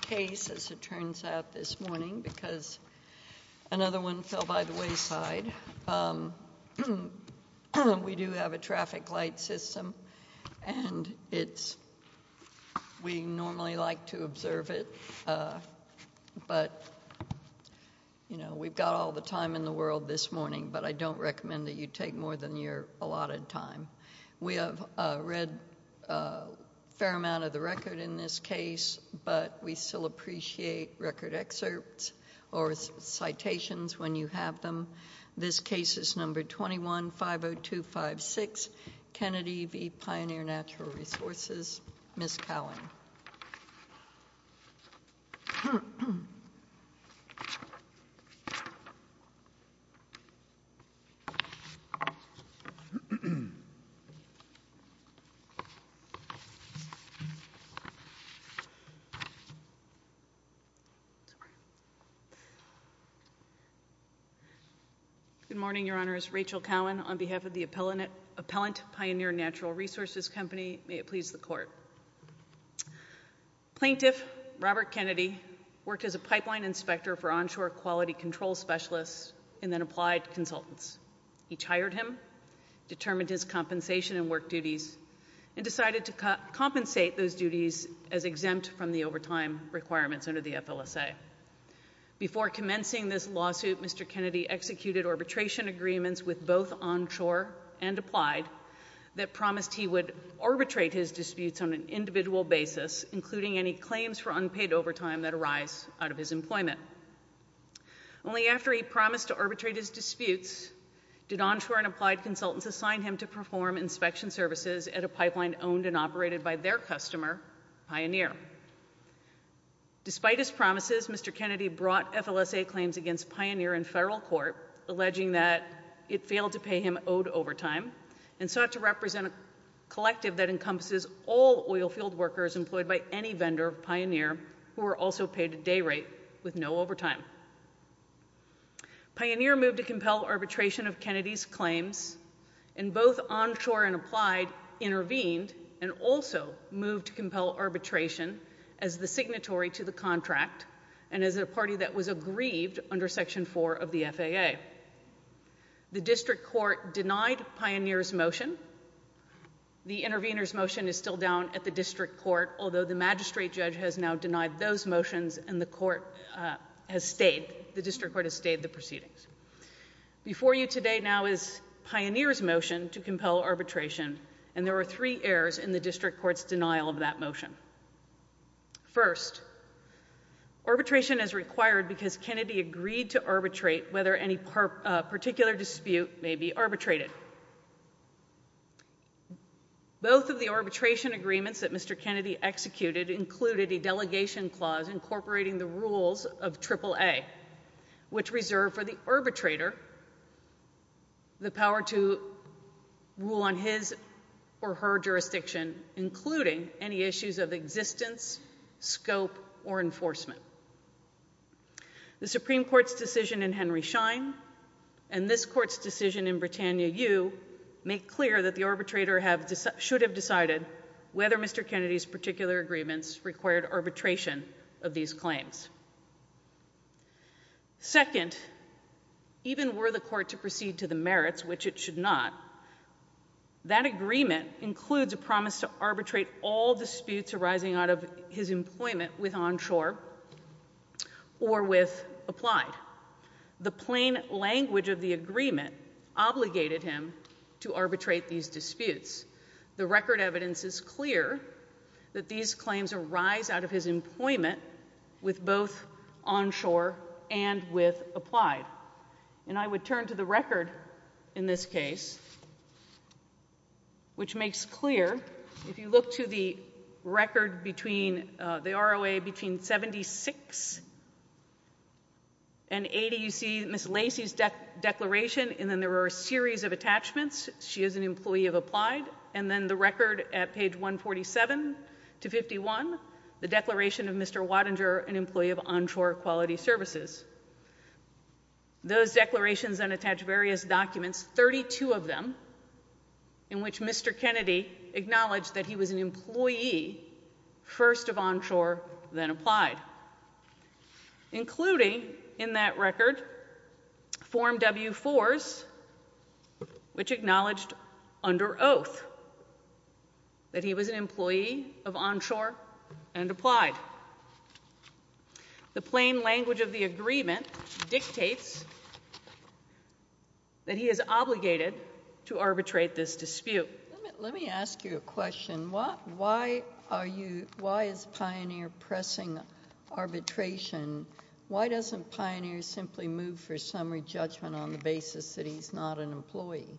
Case, as it turns out, this morning, because another one fell by the wayside. We do have a traffic light system, and we normally like to observe it, but we've got all the time in the world this morning, but I don't recommend that you take more than your allotted time. We have read a fair amount of the record in this case, but we still appreciate record excerpts or citations when you have them. This case is number 21-50256, Kennedy v. Pioneer Natural Resources. Ms. Cowan. Good morning, Your Honors. Rachel Cowan on behalf of the Appellant Pioneer Natural Resources Company. May it please the Court. Plaintiff Robert Kennedy worked as a pipeline inspector for onshore quality control specialists and then applied consultants. Each hired him, determined his compensation and work duties, and decided to compensate those duties as exempt from the overtime requirements under the FLSA. Before commencing this lawsuit, Mr. Kennedy executed arbitration agreements with both onshore and applied that promised he would arbitrate his disputes on an individual basis, including any claims for unpaid overtime that arise out of his employment. Only after he promised to arbitrate his disputes did onshore and applied consultants assign him to perform inspection services at a pipeline owned and operated by their customer, Pioneer. Despite his promises, Mr. Kennedy brought FLSA claims against Pioneer in federal court, alleging that it failed to pay him owed overtime and sought to represent a collective that encompasses all oilfield workers employed by any vendor of Pioneer who were also paid a day rate with no overtime. Pioneer moved to compel arbitration of Kennedy's claims, and both onshore and applied intervened and also moved to compel arbitration as the signatory to the contract and as a party that was aggrieved under Section 4 of the FAA. The district court denied Pioneer's motion. The intervener's motion is still down at the district court, although the magistrate judge has now denied those motions and the court has stayed. The district court has stayed the proceedings. Before you today now is Pioneer's motion to compel arbitration, and there are three errors in the district court's denial of that motion. First, arbitration is required because Kennedy agreed to arbitrate whether any particular dispute may be arbitrated. Both of the arbitration agreements that Mr. Kennedy executed included a delegation clause incorporating the rules of AAA, which reserved for the arbitrator the power to rule on his or her jurisdiction, including any issues of existence, scope, or enforcement. The Supreme Court's decision in Henry Schein and this court's decision in Britannia U make clear that the arbitrator should have decided whether Mr. Kennedy's particular agreements required arbitration of these claims. Second, even were the court to proceed to the merits, which it should not, that agreement includes a promise to arbitrate all disputes arising out of his employment with onshore or with applied. The plain language of the agreement obligated him to arbitrate these disputes. The record evidence is clear that these claims arise out of his employment with both onshore and with applied. And I would turn to the record in this case, which makes clear, if you look to the record between the ROA between 76 and 80, you see Ms. Lacey's declaration, and then there are a series of attachments. She is an employee of applied, and then the record at page 147 to 51, the declaration of Mr. Wattinger, an employee of onshore quality services. Those declarations then attach various documents, 32 of them, in which Mr. Kennedy acknowledged that he was an employee first of onshore, then applied, including in that record Form W-4s, which acknowledged under oath that he was an employee of onshore and applied. The plain language of the agreement dictates that he is obligated to arbitrate this dispute. Let me ask you a question. Why is Pioneer pressing arbitration? Why doesn't Pioneer simply move for summary judgment on the basis that he's not an employee?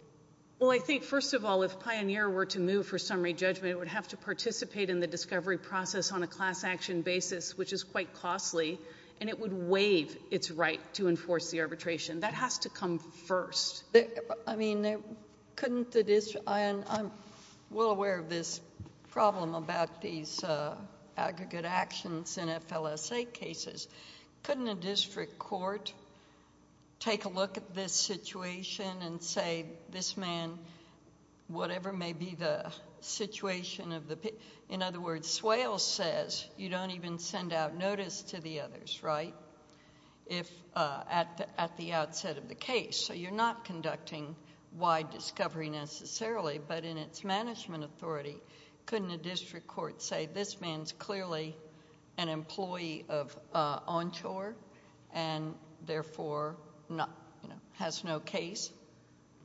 Well, I think, first of all, if Pioneer were to move for summary judgment, it would have to participate in the discovery process on a class-action basis, which is quite costly, and it would waive its right to enforce the arbitration. That has to come first. I'm well aware of this problem about these aggregate actions in FLSA cases. Couldn't a district court take a look at this situation and say, this man, whatever may be the situation of the... In other words, Swale says you don't even send out notice to the others, right, at the outset of the case. So you're not conducting wide discovery necessarily. But in its management authority, couldn't a district court say, this man's clearly an employee of onshore and therefore has no case?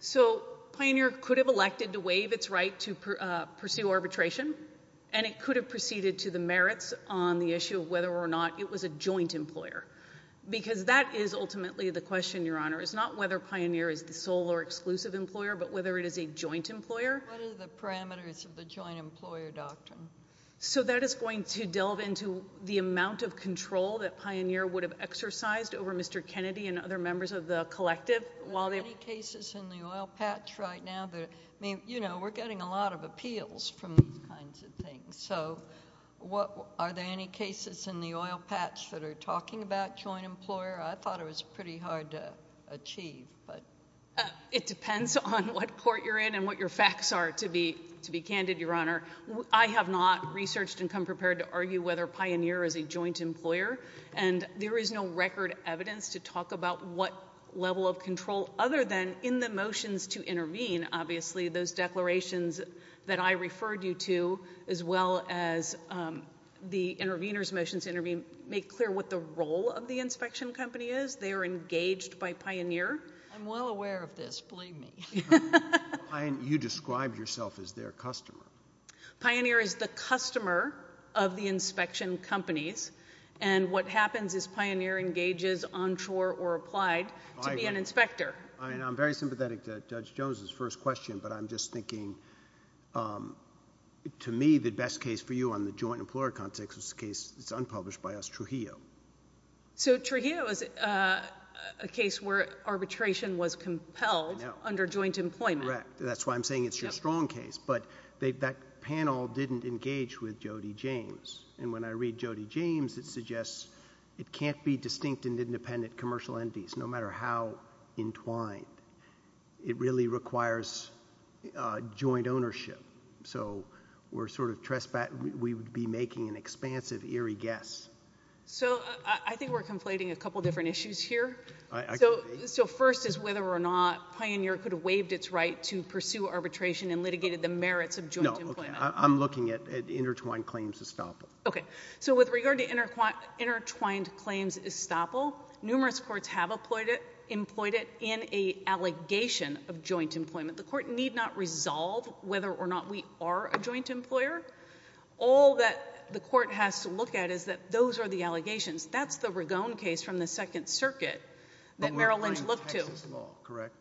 So Pioneer could have elected to waive its right to pursue arbitration, and it could have proceeded to the merits on the issue of whether or not it was a joint employer, because that is ultimately the question, Your Honor, is not whether Pioneer is the sole or exclusive employer, but whether it is a joint employer. What are the parameters of the joint employer doctrine? So that is going to delve into the amount of control that Pioneer would have exercised over Mr. Kennedy and other members of the collective. Are there any cases in the oil patch right now that... I mean, you know, we're getting a lot of appeals from these kinds of things. So are there any cases in the oil patch that are talking about joint employer? I thought it was pretty hard to achieve. It depends on what court you're in and what your facts are, to be candid, Your Honor. I have not researched and come prepared to argue whether Pioneer is a joint employer, and there is no record evidence to talk about what level of control, other than in the motions to intervene, obviously, those declarations that I referred you to, as well as the intervener's motions to intervene, make clear what the role of the inspection company is. They are engaged by Pioneer. I'm well aware of this. Believe me. You described yourself as their customer. Pioneer is the customer of the inspection companies, and what happens is Pioneer engages on shore or applied to be an inspector. I'm very sympathetic to Judge Jones's first question, but I'm just thinking, to me, the best case for you on the joint employer context is a case that's unpublished by us, Trujillo. So Trujillo is a case where arbitration was compelled under joint employment. Correct. That's why I'm saying it's your strong case, but that panel didn't engage with Jody James, and when I read Jody James, it suggests it can't be distinct and independent commercial entities, no matter how entwined. It really requires joint ownership. So we're sort of trespassing. We would be making an expansive, eerie guess. So I think we're conflating a couple different issues here. So first is whether or not Pioneer could have waived its right to pursue arbitration and litigated the merits of joint employment. No, I'm looking at intertwined claims estoppel. Okay. So with regard to intertwined claims estoppel, numerous courts have employed it in an allegation of joint employment. The court need not resolve whether or not we are a joint employer. All that the court has to look at is that those are the allegations. That's the Ragone case from the Second Circuit that Merrill Lynch looked to. But we're applying Texas law, correct?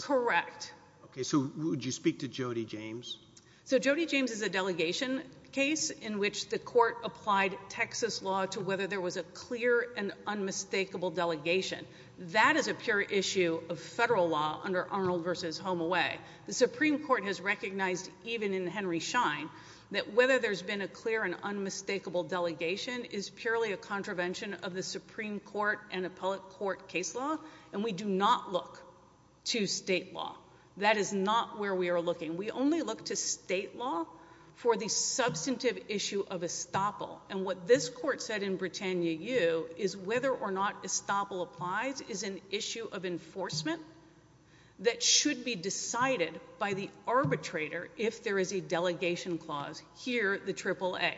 Correct. Okay. So would you speak to Jody James? So Jody James is a delegation case in which the court applied Texas law to whether there was a clear and unmistakable delegation. That is a pure issue of federal law under Arnold v. Home Away. The Supreme Court has recognized, even in Henry Schein, that whether there's been a clear and unmistakable delegation is purely a contravention of the Supreme Court and appellate court case law, and we do not look to state law. That is not where we are looking. We only look to state law for the substantive issue of estoppel. And what this court said in Britannia U is whether or not estoppel applies is an issue of enforcement that should be decided by the arbitrator if there is a delegation clause, here the AAA.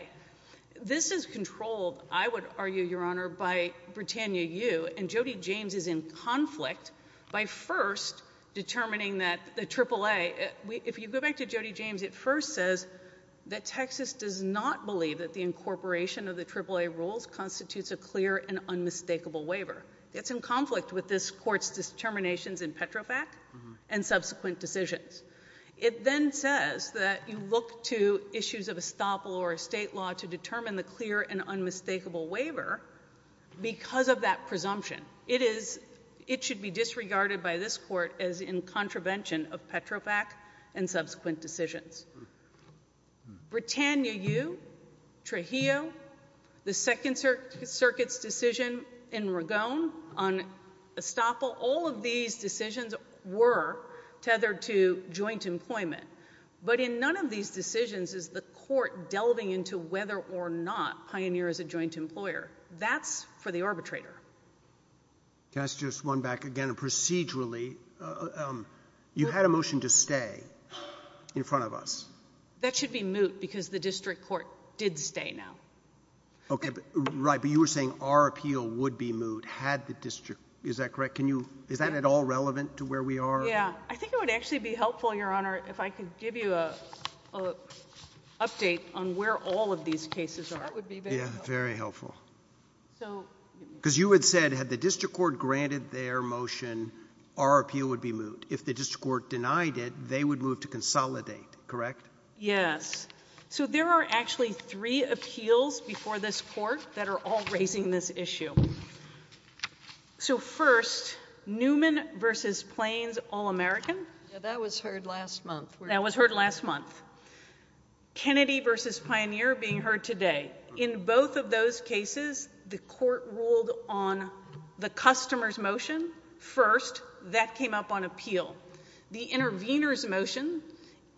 This is controlled, I would argue, Your Honor, by Britannia U, and Jody James is in conflict by first determining that the AAA, if you go back to Jody James, it first says that Texas does not believe that the incorporation of the AAA rules constitutes a clear and unmistakable waiver. It's in conflict with this court's determinations in Petrofac and subsequent decisions. It then says that you look to issues of estoppel or state law to determine the clear and unmistakable waiver because of that presumption. It should be disregarded by this court as in contravention of Petrofac and subsequent decisions. Britannia U, Trujillo, the Second Circuit's decision in Ragon on estoppel, all of these decisions were tethered to joint employment. But in none of these decisions is the court delving into whether or not pioneer is a joint employer. That's for the arbitrator. Can I suggest one back again? Procedurally, you had a motion to stay in front of us. That should be moot because the district court did stay now. Okay, right, but you were saying our appeal would be moot had the district, is that correct? Is that at all relevant to where we are? Yeah, I think it would actually be helpful, Your Honor, if I could give you an update on where all of these cases are. That would be very helpful. Yeah, very helpful. Because you had said had the district court granted their motion, our appeal would be moot. If the district court denied it, they would move to consolidate, correct? Yes. So there are actually three appeals before this court that are all raising this issue. So first, Newman v. Plains, All-American. That was heard last month. That was heard last month. Kennedy v. Pioneer being heard today. In both of those cases, the court ruled on the customer's motion first. That came up on appeal. The intervener's motion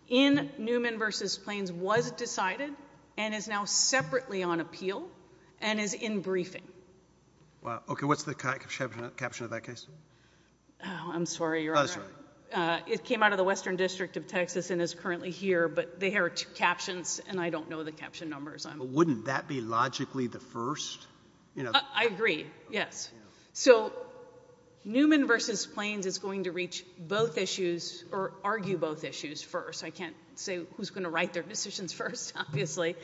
in Newman v. Plains was decided and is now separately on appeal and is in briefing. Okay, what's the caption of that case? I'm sorry, Your Honor. It came out of the Western District of Texas and is currently here, but there are two captions, and I don't know the caption numbers. But wouldn't that be logically the first? I agree, yes. So Newman v. Plains is going to reach both issues or argue both issues first. I can't say who's going to write their decisions first, obviously.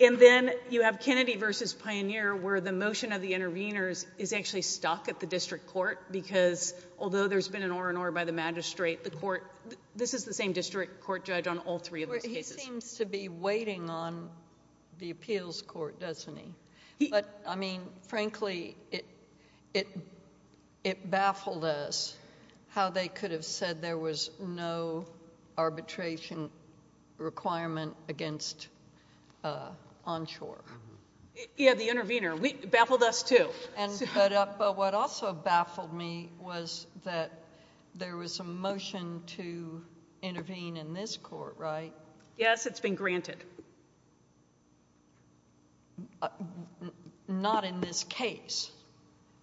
And then you have Kennedy v. Pioneer where the motion of the interveners is actually stuck at the district court because although there's been an or-and-or by the magistrate, this is the same district court judge on all three of those cases. He seems to be waiting on the appeals court, doesn't he? But, I mean, frankly, it baffled us how they could have said there was no arbitration requirement against Onshore. He had the intervener. But what also baffled me was that there was a motion to intervene in this court, right? Yes, it's been granted. Not in this case.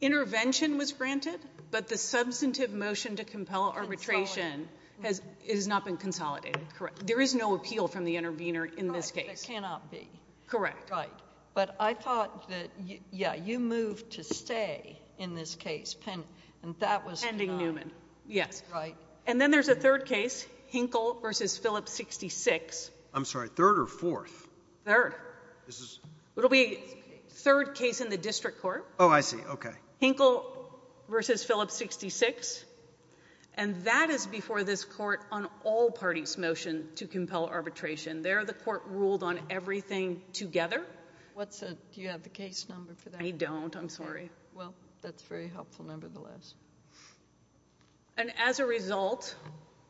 Intervention was granted, but the substantive motion to compel arbitration has not been consolidated. Correct. There is no appeal from the intervener in this case. Correct, there cannot be. Correct. Right. But I thought that, yeah, you moved to stay in this case pending Newman. Yes. Right. And then there's a third case, Hinkle v. Phillips 66. I'm sorry, third or fourth? Third. This is? It'll be a third case in the district court. Oh, I see. Okay. Hinkle v. Phillips 66. And that is before this court on all parties' motion to compel arbitration. There, the court ruled on everything together. Do you have the case number for that? I don't. I'm sorry. Well, that's very helpful, nevertheless. And as a result,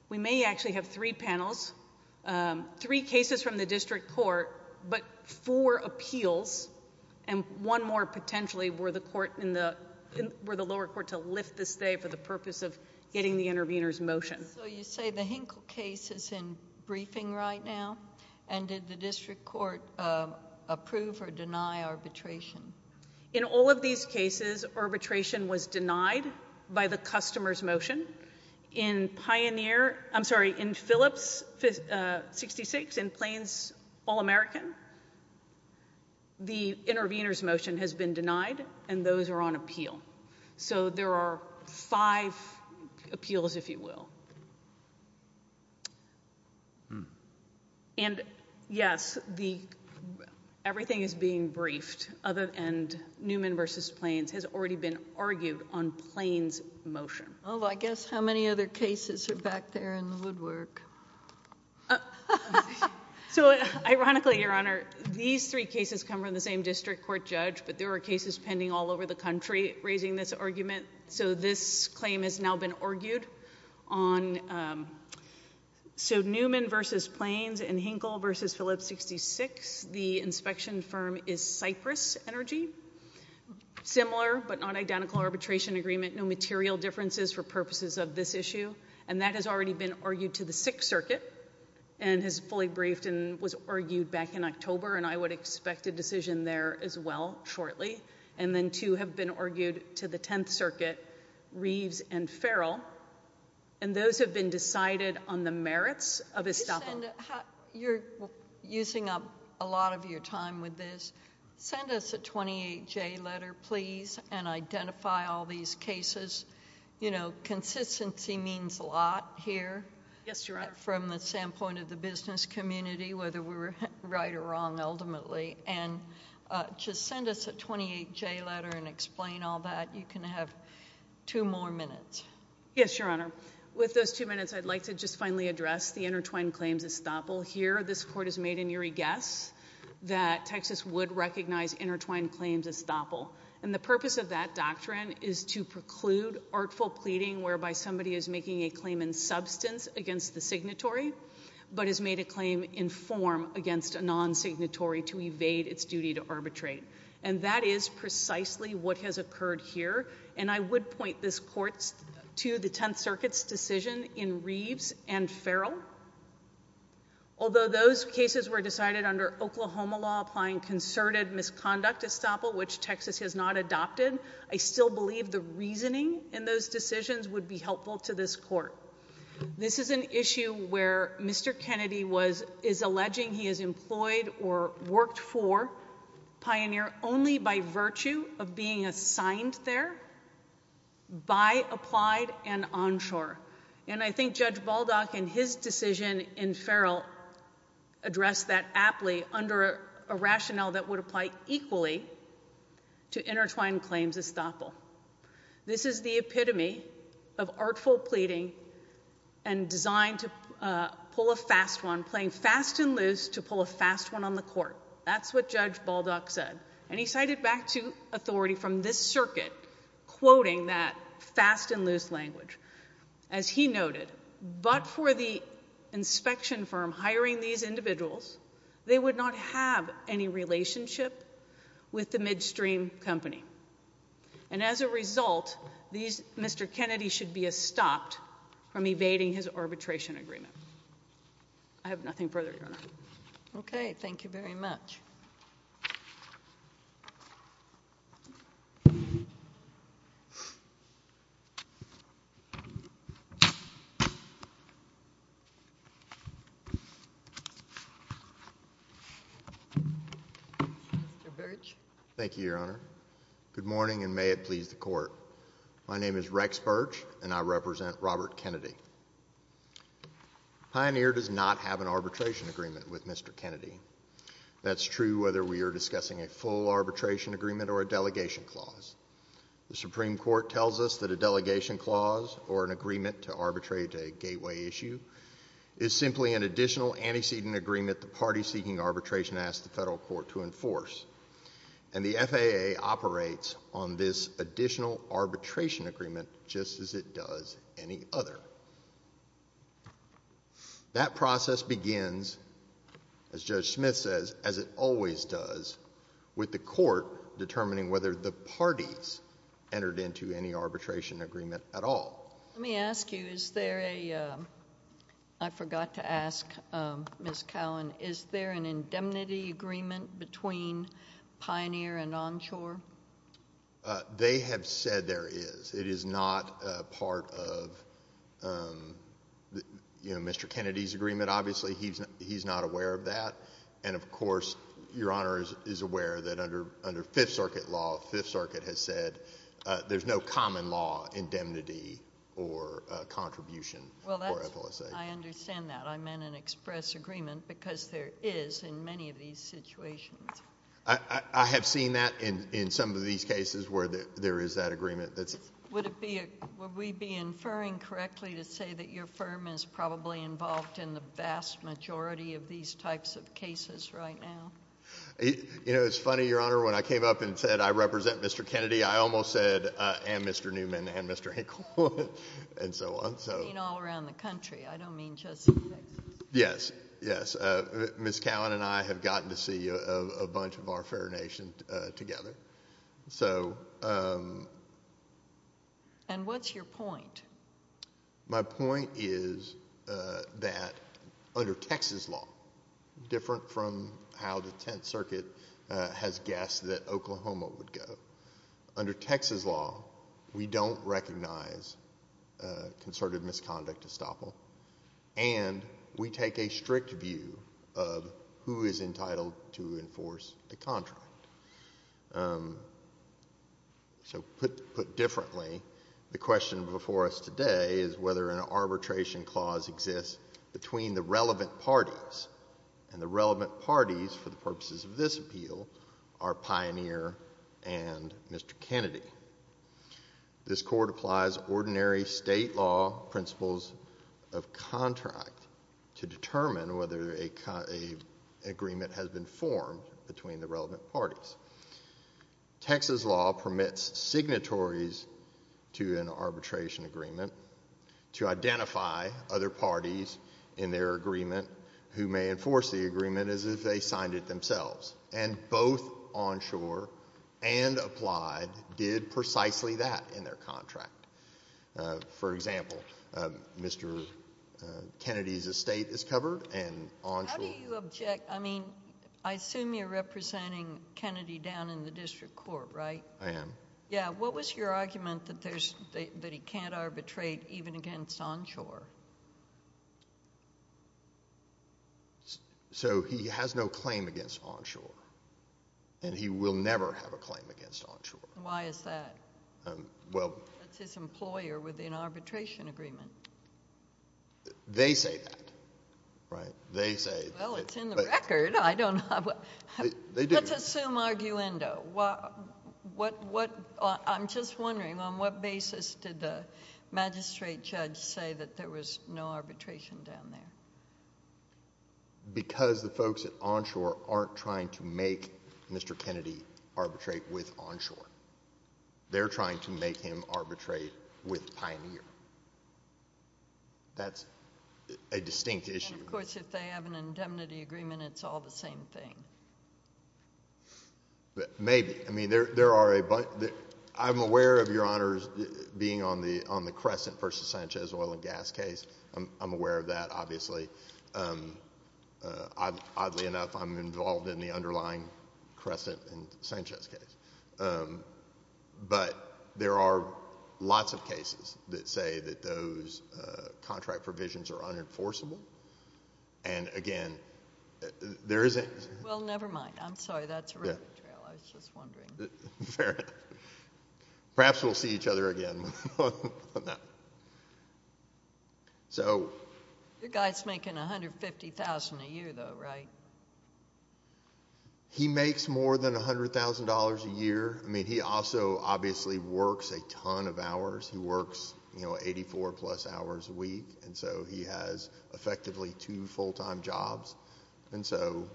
we may actually have three panels, three cases from the district court, but four appeals, and one more potentially were the lower court to lift the stay for the purpose of getting the intervener's motion. So you say the Hinkle case is in briefing right now? And did the district court approve or deny arbitration? In all of these cases, arbitration was denied by the customer's motion. In Phillips 66, in Plains All-American, the intervener's motion has been denied, and those are on appeal. So there are five appeals, if you will. And yes, everything is being briefed, and Newman v. Plains has already been argued on Plains' motion. Well, I guess how many other cases are back there in the woodwork? So ironically, Your Honor, these three cases come from the same district court judge, but there are cases pending all over the country raising this argument. So this claim has now been argued on. So Newman v. Plains and Hinkle v. Phillips 66, the inspection firm is Cypress Energy, similar but not identical arbitration agreement, no material differences for purposes of this issue, and that has already been argued to the Sixth Circuit and has fully briefed and was argued back in October, and I would expect a decision there as well shortly. And then two have been argued to the Tenth Circuit, Reeves and Farrell, and those have been decided on the merits of estoppel. You're using up a lot of your time with this. Send us a 28-J letter, please, and identify all these cases. You know, consistency means a lot here from the standpoint of the business community, whether we were right or wrong ultimately. And just send us a 28-J letter and explain all that. You can have two more minutes. Yes, Your Honor. With those two minutes, I'd like to just finally address the intertwined claims estoppel. Here this Court has made an eerie guess that Texas would recognize intertwined claims estoppel, and the purpose of that doctrine is to preclude artful pleading whereby somebody is making a claim in substance against the signatory but has made a claim in form against a non-signatory to evade its duty to arbitrate. And that is precisely what has occurred here, and I would point this Court to the Tenth Circuit's decision in Reeves and Farrell. Although those cases were decided under Oklahoma law applying concerted misconduct estoppel, which Texas has not adopted, I still believe the reasoning in those decisions would be helpful to this Court. This is an issue where Mr. Kennedy is alleging he has employed or worked for Pioneer only by virtue of being assigned there by Applied and Onshore. And I think Judge Baldock in his decision in Farrell addressed that aptly under a rationale that would apply equally to intertwined claims estoppel. This is the epitome of artful pleading and designed to pull a fast one, playing fast and loose to pull a fast one on the Court. That's what Judge Baldock said. And he cited back to authority from this Circuit, quoting that fast and loose language. As he noted, but for the inspection firm hiring these individuals, they would not have any relationship with the midstream company. And as a result, Mr. Kennedy should be estopped from evading his arbitration agreement. Thank you. Okay, thank you very much. Thank you, Your Honor. Good morning, and may it please the Court. My name is Rex Birch, and I represent Robert Kennedy. Pioneer does not have an arbitration agreement with Mr. Kennedy. That's true whether we are discussing a full arbitration agreement or a delegation clause. The Supreme Court tells us that a delegation clause or an agreement to arbitrate a gateway issue is simply an additional antecedent agreement the party seeking arbitration asks the federal court to enforce. And the FAA operates on this additional arbitration agreement just as it does any other. That process begins, as Judge Smith says, as it always does, with the Court determining whether the parties entered into any arbitration agreement at all. Let me ask you, I forgot to ask Ms. Cowan, is there an indemnity agreement between Pioneer and Onshore? They have said there is. It is not part of Mr. Kennedy's agreement. Obviously, he's not aware of that. And, of course, Your Honor is aware that under Fifth Circuit law, Fifth Circuit has said there's no common law indemnity or contribution for FLSA. I understand that. I meant an express agreement because there is in many of these situations. I have seen that in some of these cases where there is that agreement. Would we be inferring correctly to say that your firm is probably involved in the vast majority of these types of cases right now? You know, it's funny, Your Honor. When I came up and said I represent Mr. Kennedy, I almost said and Mr. Newman and Mr. Hinkle and so on. I mean all around the country. I don't mean just in Texas. Yes. Yes. Ms. Cowan and I have gotten to see a bunch of our fair nation together. And what's your point? My point is that under Texas law, different from how the Tenth Circuit has guessed that Oklahoma would go, under Texas law, we don't recognize concerted misconduct estoppel, and we take a strict view of who is entitled to enforce the contract. So put differently, the question before us today is whether an arbitration clause exists between the relevant parties. And the relevant parties for the purposes of this appeal are Pioneer and Mr. Kennedy. This court applies ordinary state law principles of contract to determine whether an agreement has been formed between the relevant parties. Texas law permits signatories to an arbitration agreement to identify other parties in their agreement who may enforce the agreement as if they signed it themselves. And both Onshore and Applied did precisely that in their contract. For example, Mr. Kennedy's estate is covered and Onshore How do you object? I mean, I assume you're representing Kennedy down in the district court, right? I am. Yeah. What was your argument that he can't arbitrate even against Onshore? So he has no claim against Onshore, and he will never have a claim against Onshore. Why is that? Well That's his employer within arbitration agreement. They say that, right? They say Well, it's in the record. I don't know. They do. Let's assume arguendo. I'm just wondering, on what basis did the magistrate judge say that there was no arbitration down there? Because the folks at Onshore aren't trying to make Mr. Kennedy arbitrate with Onshore. They're trying to make him arbitrate with Pioneer. That's a distinct issue. And, of course, if they have an indemnity agreement, it's all the same thing. Maybe. I mean, there are a bunch. I'm aware of Your Honors being on the Crescent v. Sanchez oil and gas case. I'm aware of that, obviously. Oddly enough, I'm involved in the underlying Crescent v. Sanchez case. But there are lots of cases that say that those contract provisions are unenforceable. And, again, there isn't Well, never mind. I'm sorry. That's a rabbit trail. I was just wondering. Fair enough. Perhaps we'll see each other again on that. So Your guy's making $150,000 a year, though, right? He makes more than $100,000 a year. I mean, he also obviously works a ton of hours. He works, you know, 84-plus hours a week. And so he has effectively two full-time jobs. And so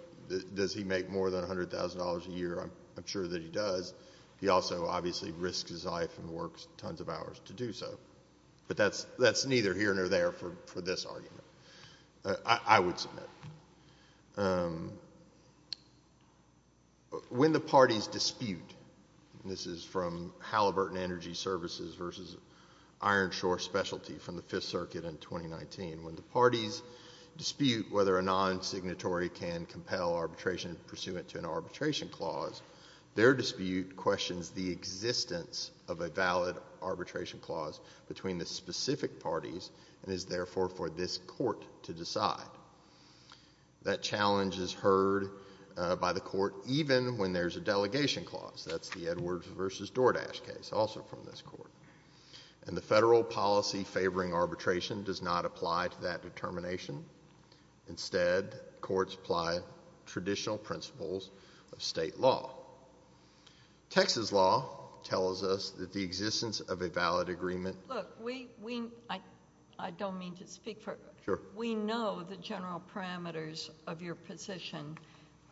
does he make more than $100,000 a year? I'm sure that he does. He also obviously risks his life and works tons of hours to do so. But that's neither here nor there for this argument. I would submit. When the parties dispute This is from Halliburton Energy Services v. Iron Shore Specialty from the Fifth Circuit in 2019. When the parties dispute whether a non-signatory can compel arbitration pursuant to an arbitration clause, their dispute questions the existence of a valid arbitration clause between the specific parties and is, therefore, for this Court to decide. That challenge is heard by the Court even when there's a delegation clause. That's the Edwards v. Doordash case, also from this Court. And the federal policy favoring arbitration does not apply to that determination. Instead, courts apply traditional principles of state law. Texas law tells us that the existence of a valid agreement Look, I don't mean to speak for Sure. We know the general parameters of your position.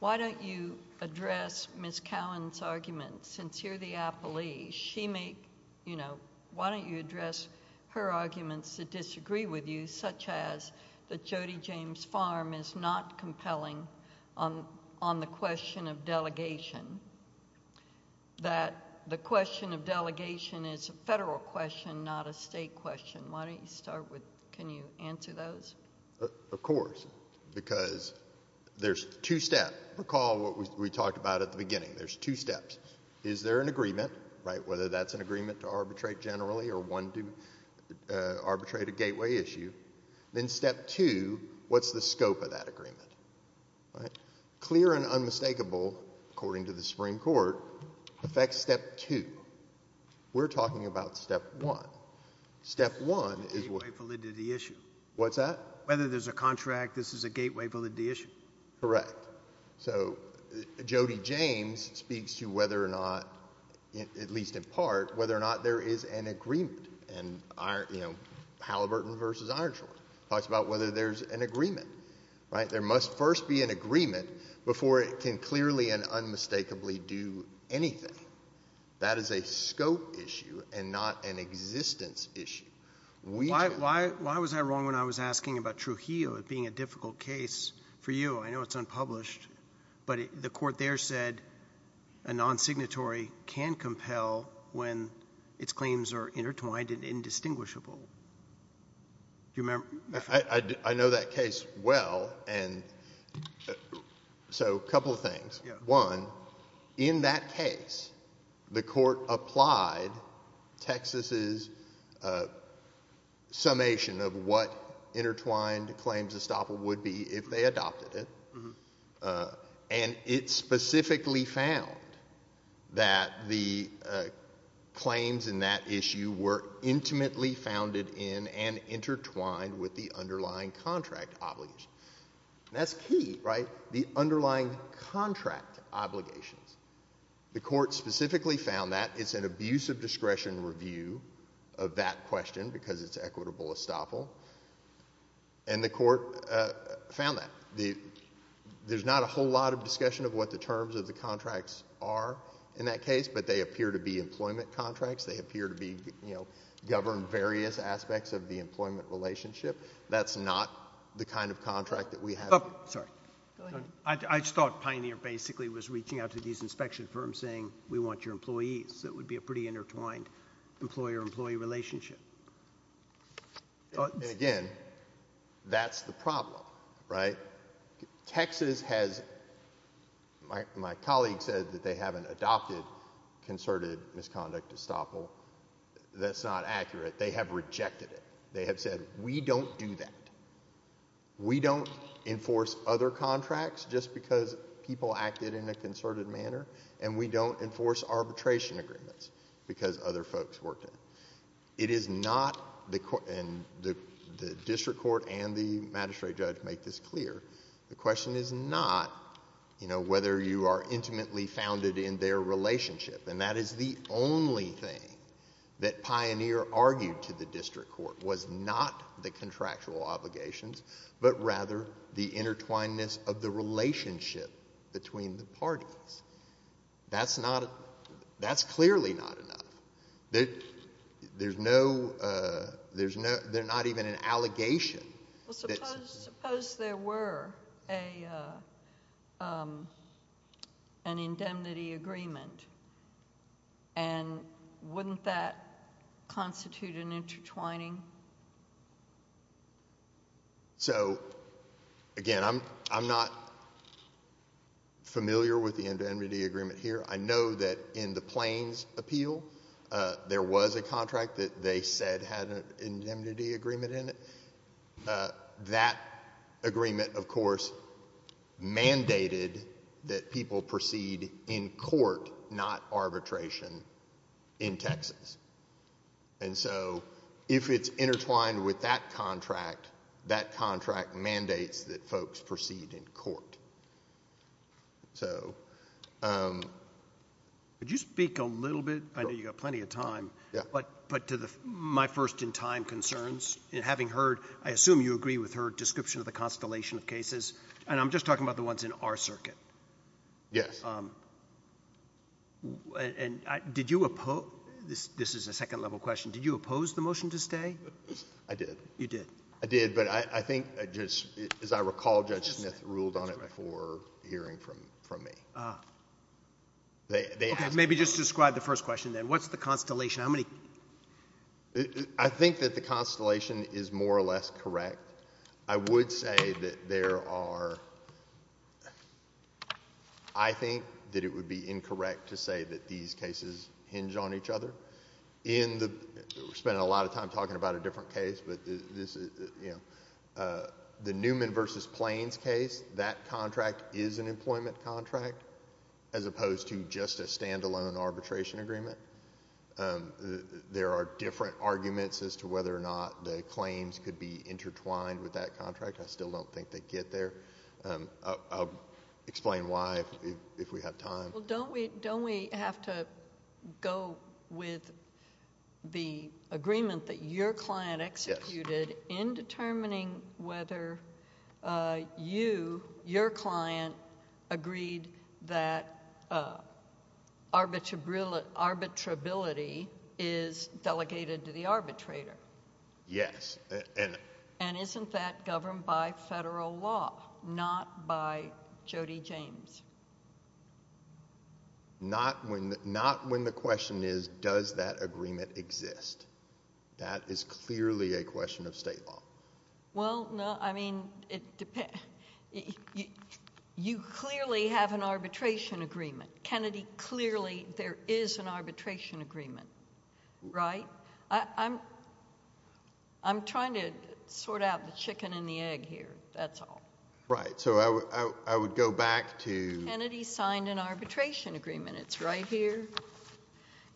Why don't you address Ms. Cowan's argument? Since you're the appellee, she may, you know Why don't you address her arguments that disagree with you, such as that Jody James Farm is not compelling on the question of delegation that the question of delegation is a federal question, not a state question. Why don't you start with Can you answer those? Of course. Recall what we talked about at the beginning. There's two steps. Is there an agreement, right, whether that's an agreement to arbitrate generally or one to arbitrate a gateway issue? Then step two, what's the scope of that agreement? Clear and unmistakable, according to the Supreme Court, affects step two. We're talking about step one. Step one is Gateway validity issue. What's that? Whether there's a contract, this is a gateway validity issue. Correct. So Jody James speaks to whether or not, at least in part, whether or not there is an agreement. Halliburton versus Ironshore talks about whether there's an agreement. There must first be an agreement before it can clearly and unmistakably do anything. That is a scope issue and not an existence issue. Why was I wrong when I was asking about Trujillo being a difficult case for you? I know it's unpublished, but the court there said a non-signatory can compel when its claims are intertwined and indistinguishable. Do you remember? I know that case well, so a couple of things. One, in that case, the court applied Texas's summation of what And it specifically found that the claims in that issue were intimately founded in and intertwined with the underlying contract obligation. That's key, right? The underlying contract obligations. The court specifically found that. It's an abuse of discretion review of that question because it's equitable estoppel. And the court found that. There's not a whole lot of discussion of what the terms of the contracts are in that case, but they appear to be employment contracts. They appear to govern various aspects of the employment relationship. That's not the kind of contract that we have. Sorry. Go ahead. I just thought Pioneer basically was reaching out to these inspection firms saying, we want your employees. It would be a pretty intertwined employer-employee relationship. Again, that's the problem, right? Texas has, my colleague said that they haven't adopted concerted misconduct estoppel. That's not accurate. They have rejected it. They have said, we don't do that. We don't enforce other contracts just because people acted in a concerted manner, and we don't enforce arbitration agreements because other folks worked in it. It is not, and the district court and the magistrate judge make this clear, the question is not, you know, whether you are intimately founded in their relationship. And that is the only thing that Pioneer argued to the district court was not the contractual obligations, but rather the intertwinedness of the relationship between the parties. That's not, that's clearly not enough. There's no, there's not even an allegation. Suppose there were an indemnity agreement, and wouldn't that constitute an intertwining? So, again, I'm not familiar with the indemnity agreement here. I know that in the Plains appeal, there was a contract that they said had an indemnity agreement in it. That agreement, of course, mandated that people proceed in court, not arbitration in Texas. And so, if it's intertwined with that contract, that contract mandates that folks proceed in court. So. Could you speak a little bit, I know you've got plenty of time, but to my first-in-time concerns, in having heard, I assume you agree with her description of the constellation of cases, and I'm just talking about the ones in our circuit. Yes. And did you oppose, this is a second-level question, did you oppose the motion to stay? I did. You did. I did, but I think, as I recall, Judge Smith ruled on it before hearing from me. Ah. Okay, maybe just describe the first question then. What's the constellation? How many? I think that the constellation is more or less correct. I would say that there are, I think that it would be incorrect to say that these cases hinge on each other. We're spending a lot of time talking about a different case, but this is, you know, the Newman v. Plains case, that contract is an employment contract, as opposed to just a standalone arbitration agreement. There are different arguments as to whether or not the claims could be intertwined with that contract. I still don't think they get there. I'll explain why if we have time. Well, don't we have to go with the agreement that your client executed in determining whether you, your client, agreed that arbitrability is delegated to the arbitrator? Yes. And isn't that governed by federal law, not by Jody James? Not when the question is, does that agreement exist? That is clearly a question of state law. Well, no, I mean, you clearly have an arbitration agreement. Kennedy clearly, there is an arbitration agreement, right? I'm trying to sort out the chicken and the egg here. That's all. Right. So I would go back to— Kennedy signed an arbitration agreement. It's right here.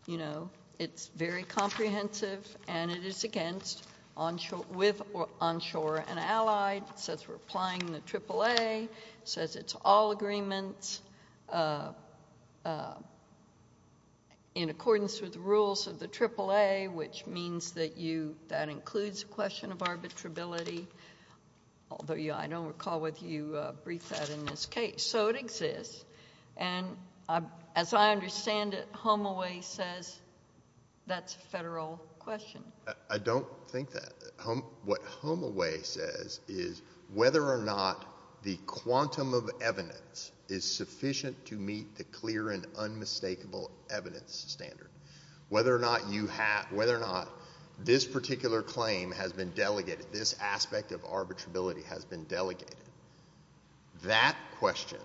You know, it's very comprehensive, and it is against, with onshore and allied. It says we're applying the AAA. It says it's all agreements. In accordance with the rules of the AAA, which means that you, that includes a question of arbitrability, although I don't recall whether you briefed that in this case. So it exists, and as I understand it, Homeaway says that's a federal question. I don't think that. What Homeaway says is whether or not the quantum of evidence is sufficient to meet the clear and unmistakable evidence standard, whether or not this particular claim has been delegated, this aspect of arbitrability has been delegated, that question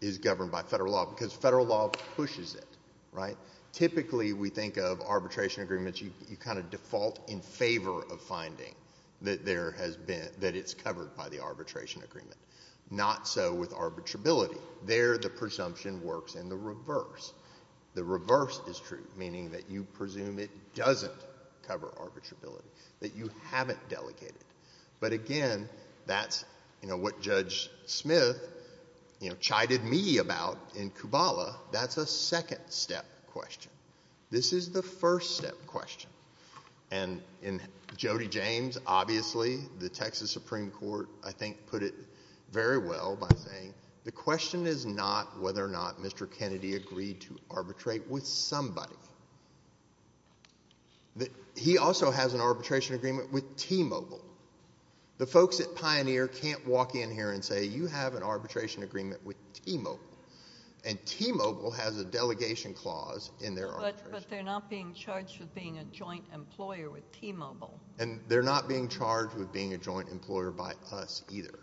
is governed by federal law, because federal law pushes it, right? Typically, we think of arbitration agreements, you kind of default in favor of finding that there has been, that it's covered by the arbitration agreement. Not so with arbitrability. There, the presumption works in the reverse. The reverse is true, meaning that you presume it doesn't cover arbitrability, that you haven't delegated. But again, that's, you know, what Judge Smith, you know, chided me about in Kubala. That's a second-step question. This is the first-step question. And in Jody James, obviously, the Texas Supreme Court, I think, put it very well by saying, the question is not whether or not Mr. Kennedy agreed to arbitrate with somebody. He also has an arbitration agreement with T-Mobile. The folks at Pioneer can't walk in here and say, you have an arbitration agreement with T-Mobile, and T-Mobile has a delegation clause in their arbitration. But they're not being charged with being a joint employer with T-Mobile. And they're not being charged with being a joint employer by us either.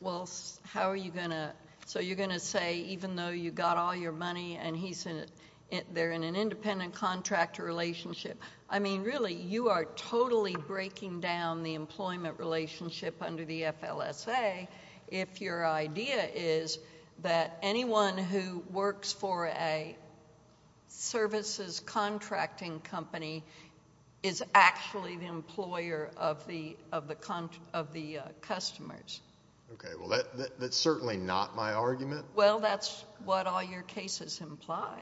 Well, how are you going to, so you're going to say, even though you got all your money and they're in an independent contractor relationship, I mean, really, you are totally breaking down the employment relationship under the FLSA if your idea is that anyone who works for a services contracting company is actually the employer of the customers? Okay, well, that's certainly not my argument. Well, that's what all your cases imply.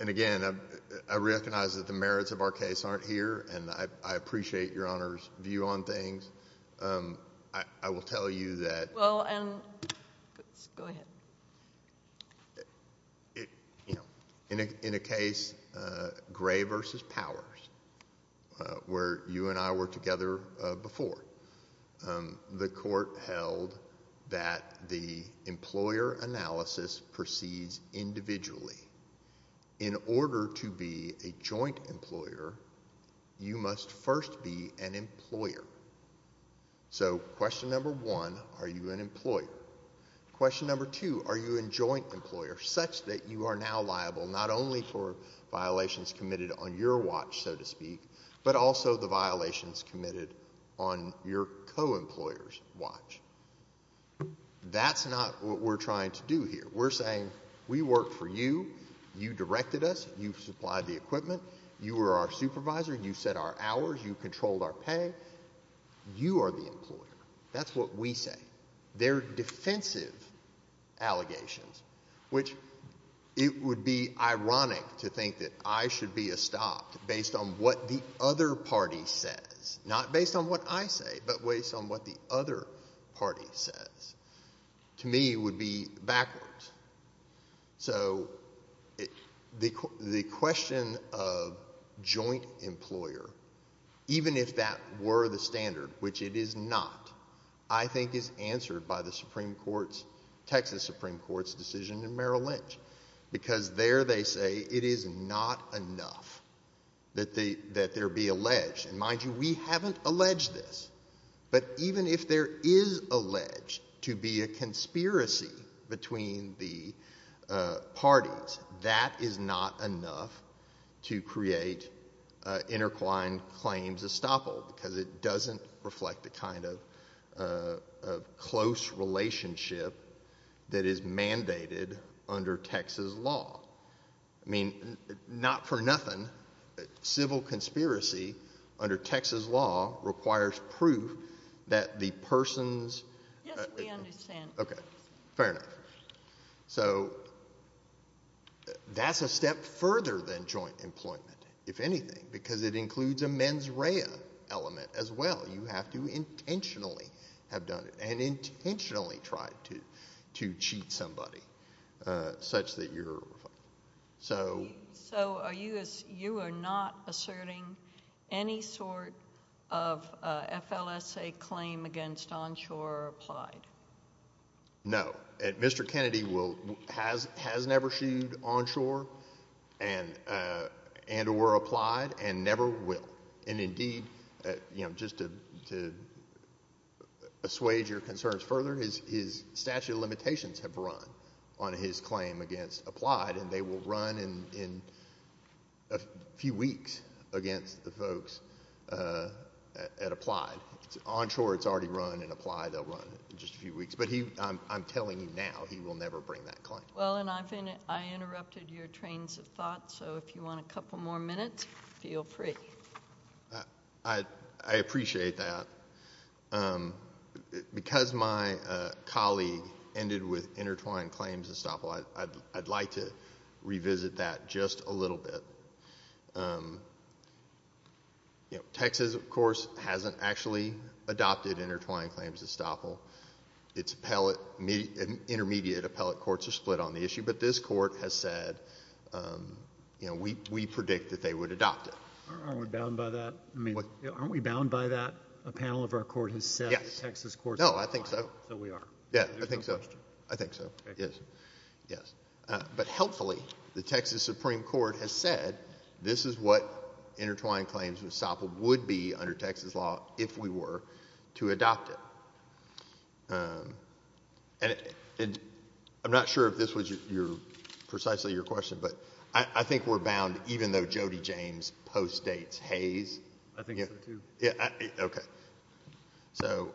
And again, I recognize that the merits of our case aren't here, and I appreciate Your Honor's view on things. I will tell you that in a case, Gray v. Powers, where you and I were together before, the court held that the employer analysis proceeds individually. In order to be a joint employer, you must first be an employer. So question number one, are you an employer? Question number two, are you a joint employer, such that you are now liable not only for violations committed on your watch, so to speak, but also the violations committed on your co-employer's watch? That's not what we're trying to do here. We're saying we work for you. You directed us. You supplied the equipment. You were our supervisor. You set our hours. You controlled our pay. You are the employer. That's what we say. They're defensive allegations, which it would be ironic to think that I should be a stop based on what the other party says, not based on what I say, but based on what the other party says. To me, it would be backwards. So the question of joint employer, even if that were the standard, which it is not, I think is answered by the Supreme Court's, Texas Supreme Court's decision in Merrill Lynch. Because there they say it is not enough that there be alleged. And mind you, we haven't alleged this. But even if there is alleged to be a conspiracy between the parties, that is not enough to create intercline claims estoppel because it doesn't reflect the kind of close relationship that is mandated under Texas law. I mean, not for nothing, civil conspiracy under Texas law requires proof that the person's. Yes, we understand. Okay. Fair enough. So that's a step further than joint employment, if anything, because it includes a mens rea element as well. You have to intentionally have done it and intentionally tried to cheat somebody such that you're. So you are not asserting any sort of FLSA claim against onshore or applied? No. Mr. Kennedy has never sued onshore and or applied and never will. And indeed, just to assuage your concerns further, his statute of limitations have run on his claim against applied and they will run in a few weeks against the folks at applied. Onshore it's already run and applied they'll run in just a few weeks. But I'm telling you now, he will never bring that claim. Well, and I interrupted your trains of thought, so if you want a couple more minutes, feel free. I appreciate that. Because my colleague ended with intertwined claims estoppel, I'd like to revisit that just a little bit. Texas, of course, hasn't actually adopted intertwined claims estoppel. Its intermediate appellate courts are split on the issue, but this court has said we predict that they would adopt it. Aren't we bound by that? I mean, aren't we bound by that? A panel of our court has said the Texas court has said. No, I think so. So we are. Yeah, I think so. I think so. Yes. Yes. But helpfully, the Texas Supreme Court has said this is what intertwined claims estoppel would be under Texas law if we were to adopt it. And I'm not sure if this was precisely your question, but I think we're bound even though Jody James postdates Hayes. I think so, too. Okay. So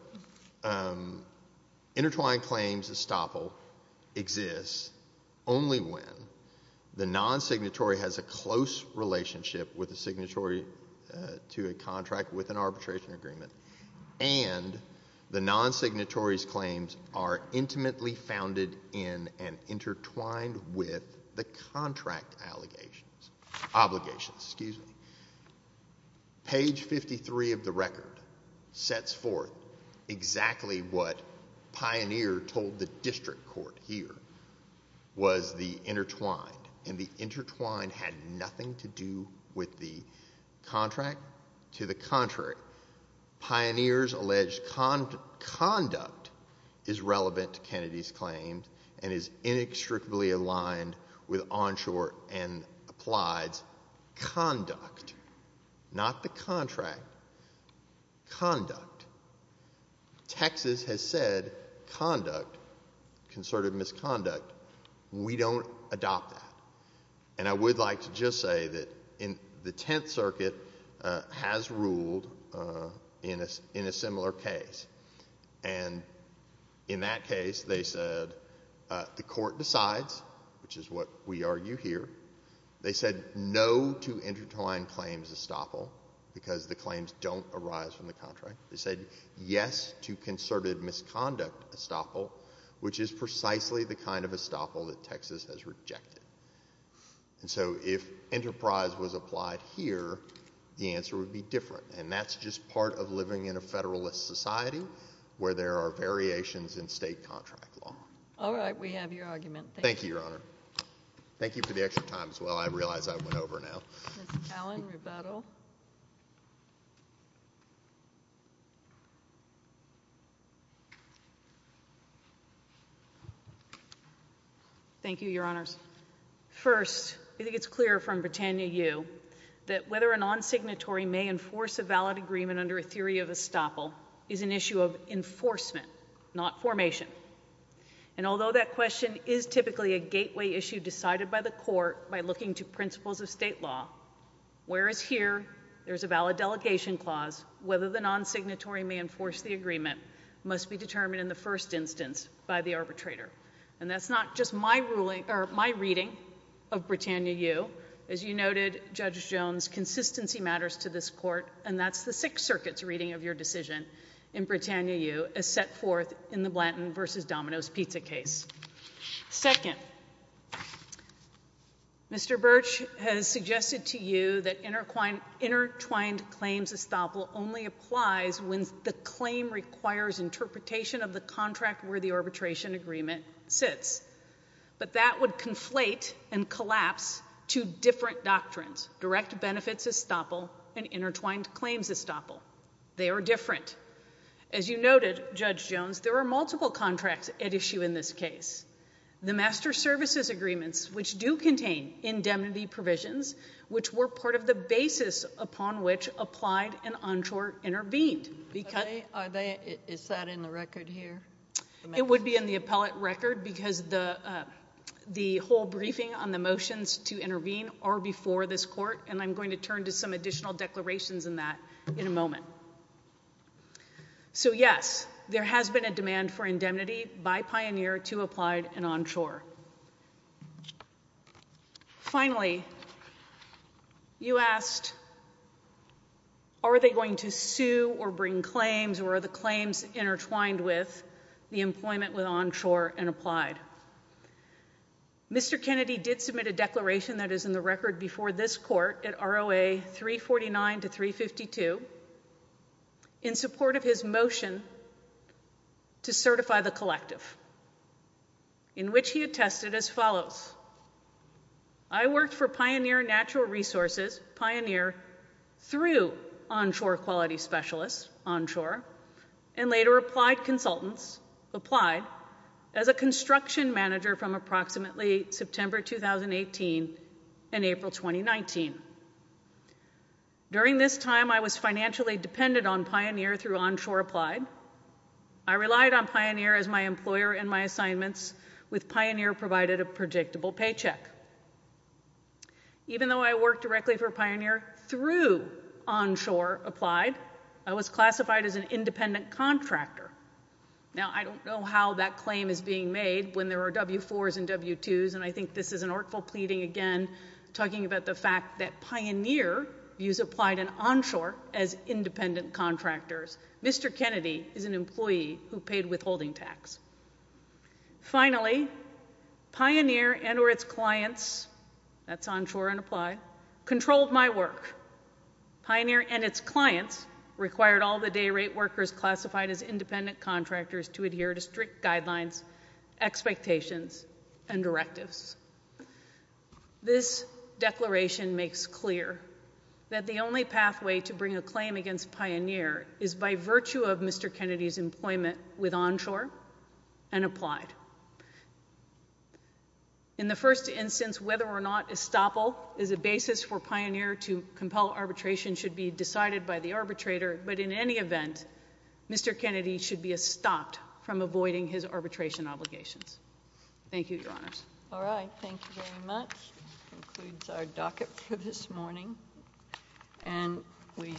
intertwined claims estoppel exists only when the non-signatory has a close relationship with a signatory to a contract with an arbitration agreement and the non-signatory's claims are intimately founded in and intertwined with the contract obligations. Page 53 of the record sets forth exactly what Pioneer told the district court here was the intertwined. And the intertwined had nothing to do with the contract. To the contrary, Pioneer's alleged conduct is relevant to Kennedy's claims and is inextricably aligned with Onshore and Applied's conduct, not the contract, conduct. Texas has said conduct, concerted misconduct. We don't adopt that. And I would like to just say that the Tenth Circuit has ruled in a similar case. And in that case, they said the court decides, which is what we argue here. They said no to intertwined claims estoppel because the claims don't arise from the contract. They said yes to concerted misconduct estoppel, which is precisely the kind of estoppel that Texas has rejected. And so if enterprise was applied here, the answer would be different. And that's just part of living in a Federalist society where there are variations in state contract law. All right. We have your argument. Thank you, Your Honor. Thank you for the extra time as well. I realize I went over now. Ms. Allen, rebuttal. Thank you, Your Honors. First, I think it's clear from Britannia U that whether a non-signatory may enforce a valid agreement under a theory of estoppel is an issue of enforcement, not formation. And although that question is typically a gateway issue decided by the court by looking to principles of state law, whereas here there's a valid delegation clause, whether the non-signatory may enforce the agreement must be determined in the first instance by the arbitrator. And that's not just my reading of Britannia U. As you noted, Judge Jones, consistency matters to this court, and that's the Sixth Circuit's reading of your decision in Britannia U as set forth in the Blanton v. Domino's pizza case. Second, Mr. Birch has suggested to you that intertwined claims estoppel only applies when the claim requires interpretation of the contract where the arbitration agreement sits. But that would conflate and collapse two different doctrines, direct benefits estoppel and intertwined claims estoppel. They are different. As you noted, Judge Jones, there are multiple contracts at issue in this case. The master services agreements, which do contain indemnity provisions, which were part of the basis upon which applied and onshore intervened. Is that in the record here? It would be in the appellate record because the whole briefing on the motions to intervene are before this court, and I'm going to turn to some additional declarations in that in a moment. So, yes, there has been a demand for indemnity by Pioneer to applied and onshore. Finally, you asked are they going to sue or bring claims or are the claims intertwined with the employment with onshore and applied? Mr. Kennedy did submit a declaration that is in the record before this court at ROA 349 to 352 in support of his motion to certify the collective, in which he attested as follows. I worked for Pioneer Natural Resources, Pioneer, through onshore quality specialists, onshore, and later applied consultants, applied, as a construction manager from approximately September 2018 and April 2019. During this time, I was financially dependent on Pioneer through onshore applied. I relied on Pioneer as my employer in my assignments, with Pioneer provided a predictable paycheck. Even though I worked directly for Pioneer through onshore applied, I was classified as an independent contractor. Now, I don't know how that claim is being made when there are W-4s and W-2s, and I think this is an artful pleading again, talking about the fact that Pioneer used applied and onshore as independent contractors. Mr. Kennedy is an employee who paid withholding tax. Finally, Pioneer and or its clients, that's onshore and applied, controlled my work. Pioneer and its clients required all the day rate workers classified as independent contractors to adhere to strict guidelines, expectations, and directives. This declaration makes clear that the only pathway to bring a claim against Pioneer is by virtue of Mr. Kennedy's employment with onshore and applied. In the first instance, whether or not estoppel is a basis for Pioneer to compel arbitration should be decided by the arbitrator, but in any event, Mr. Kennedy should be stopped from avoiding his arbitration obligations. Thank you, Your Honors. All right. Thank you very much. That concludes our docket for this morning. And we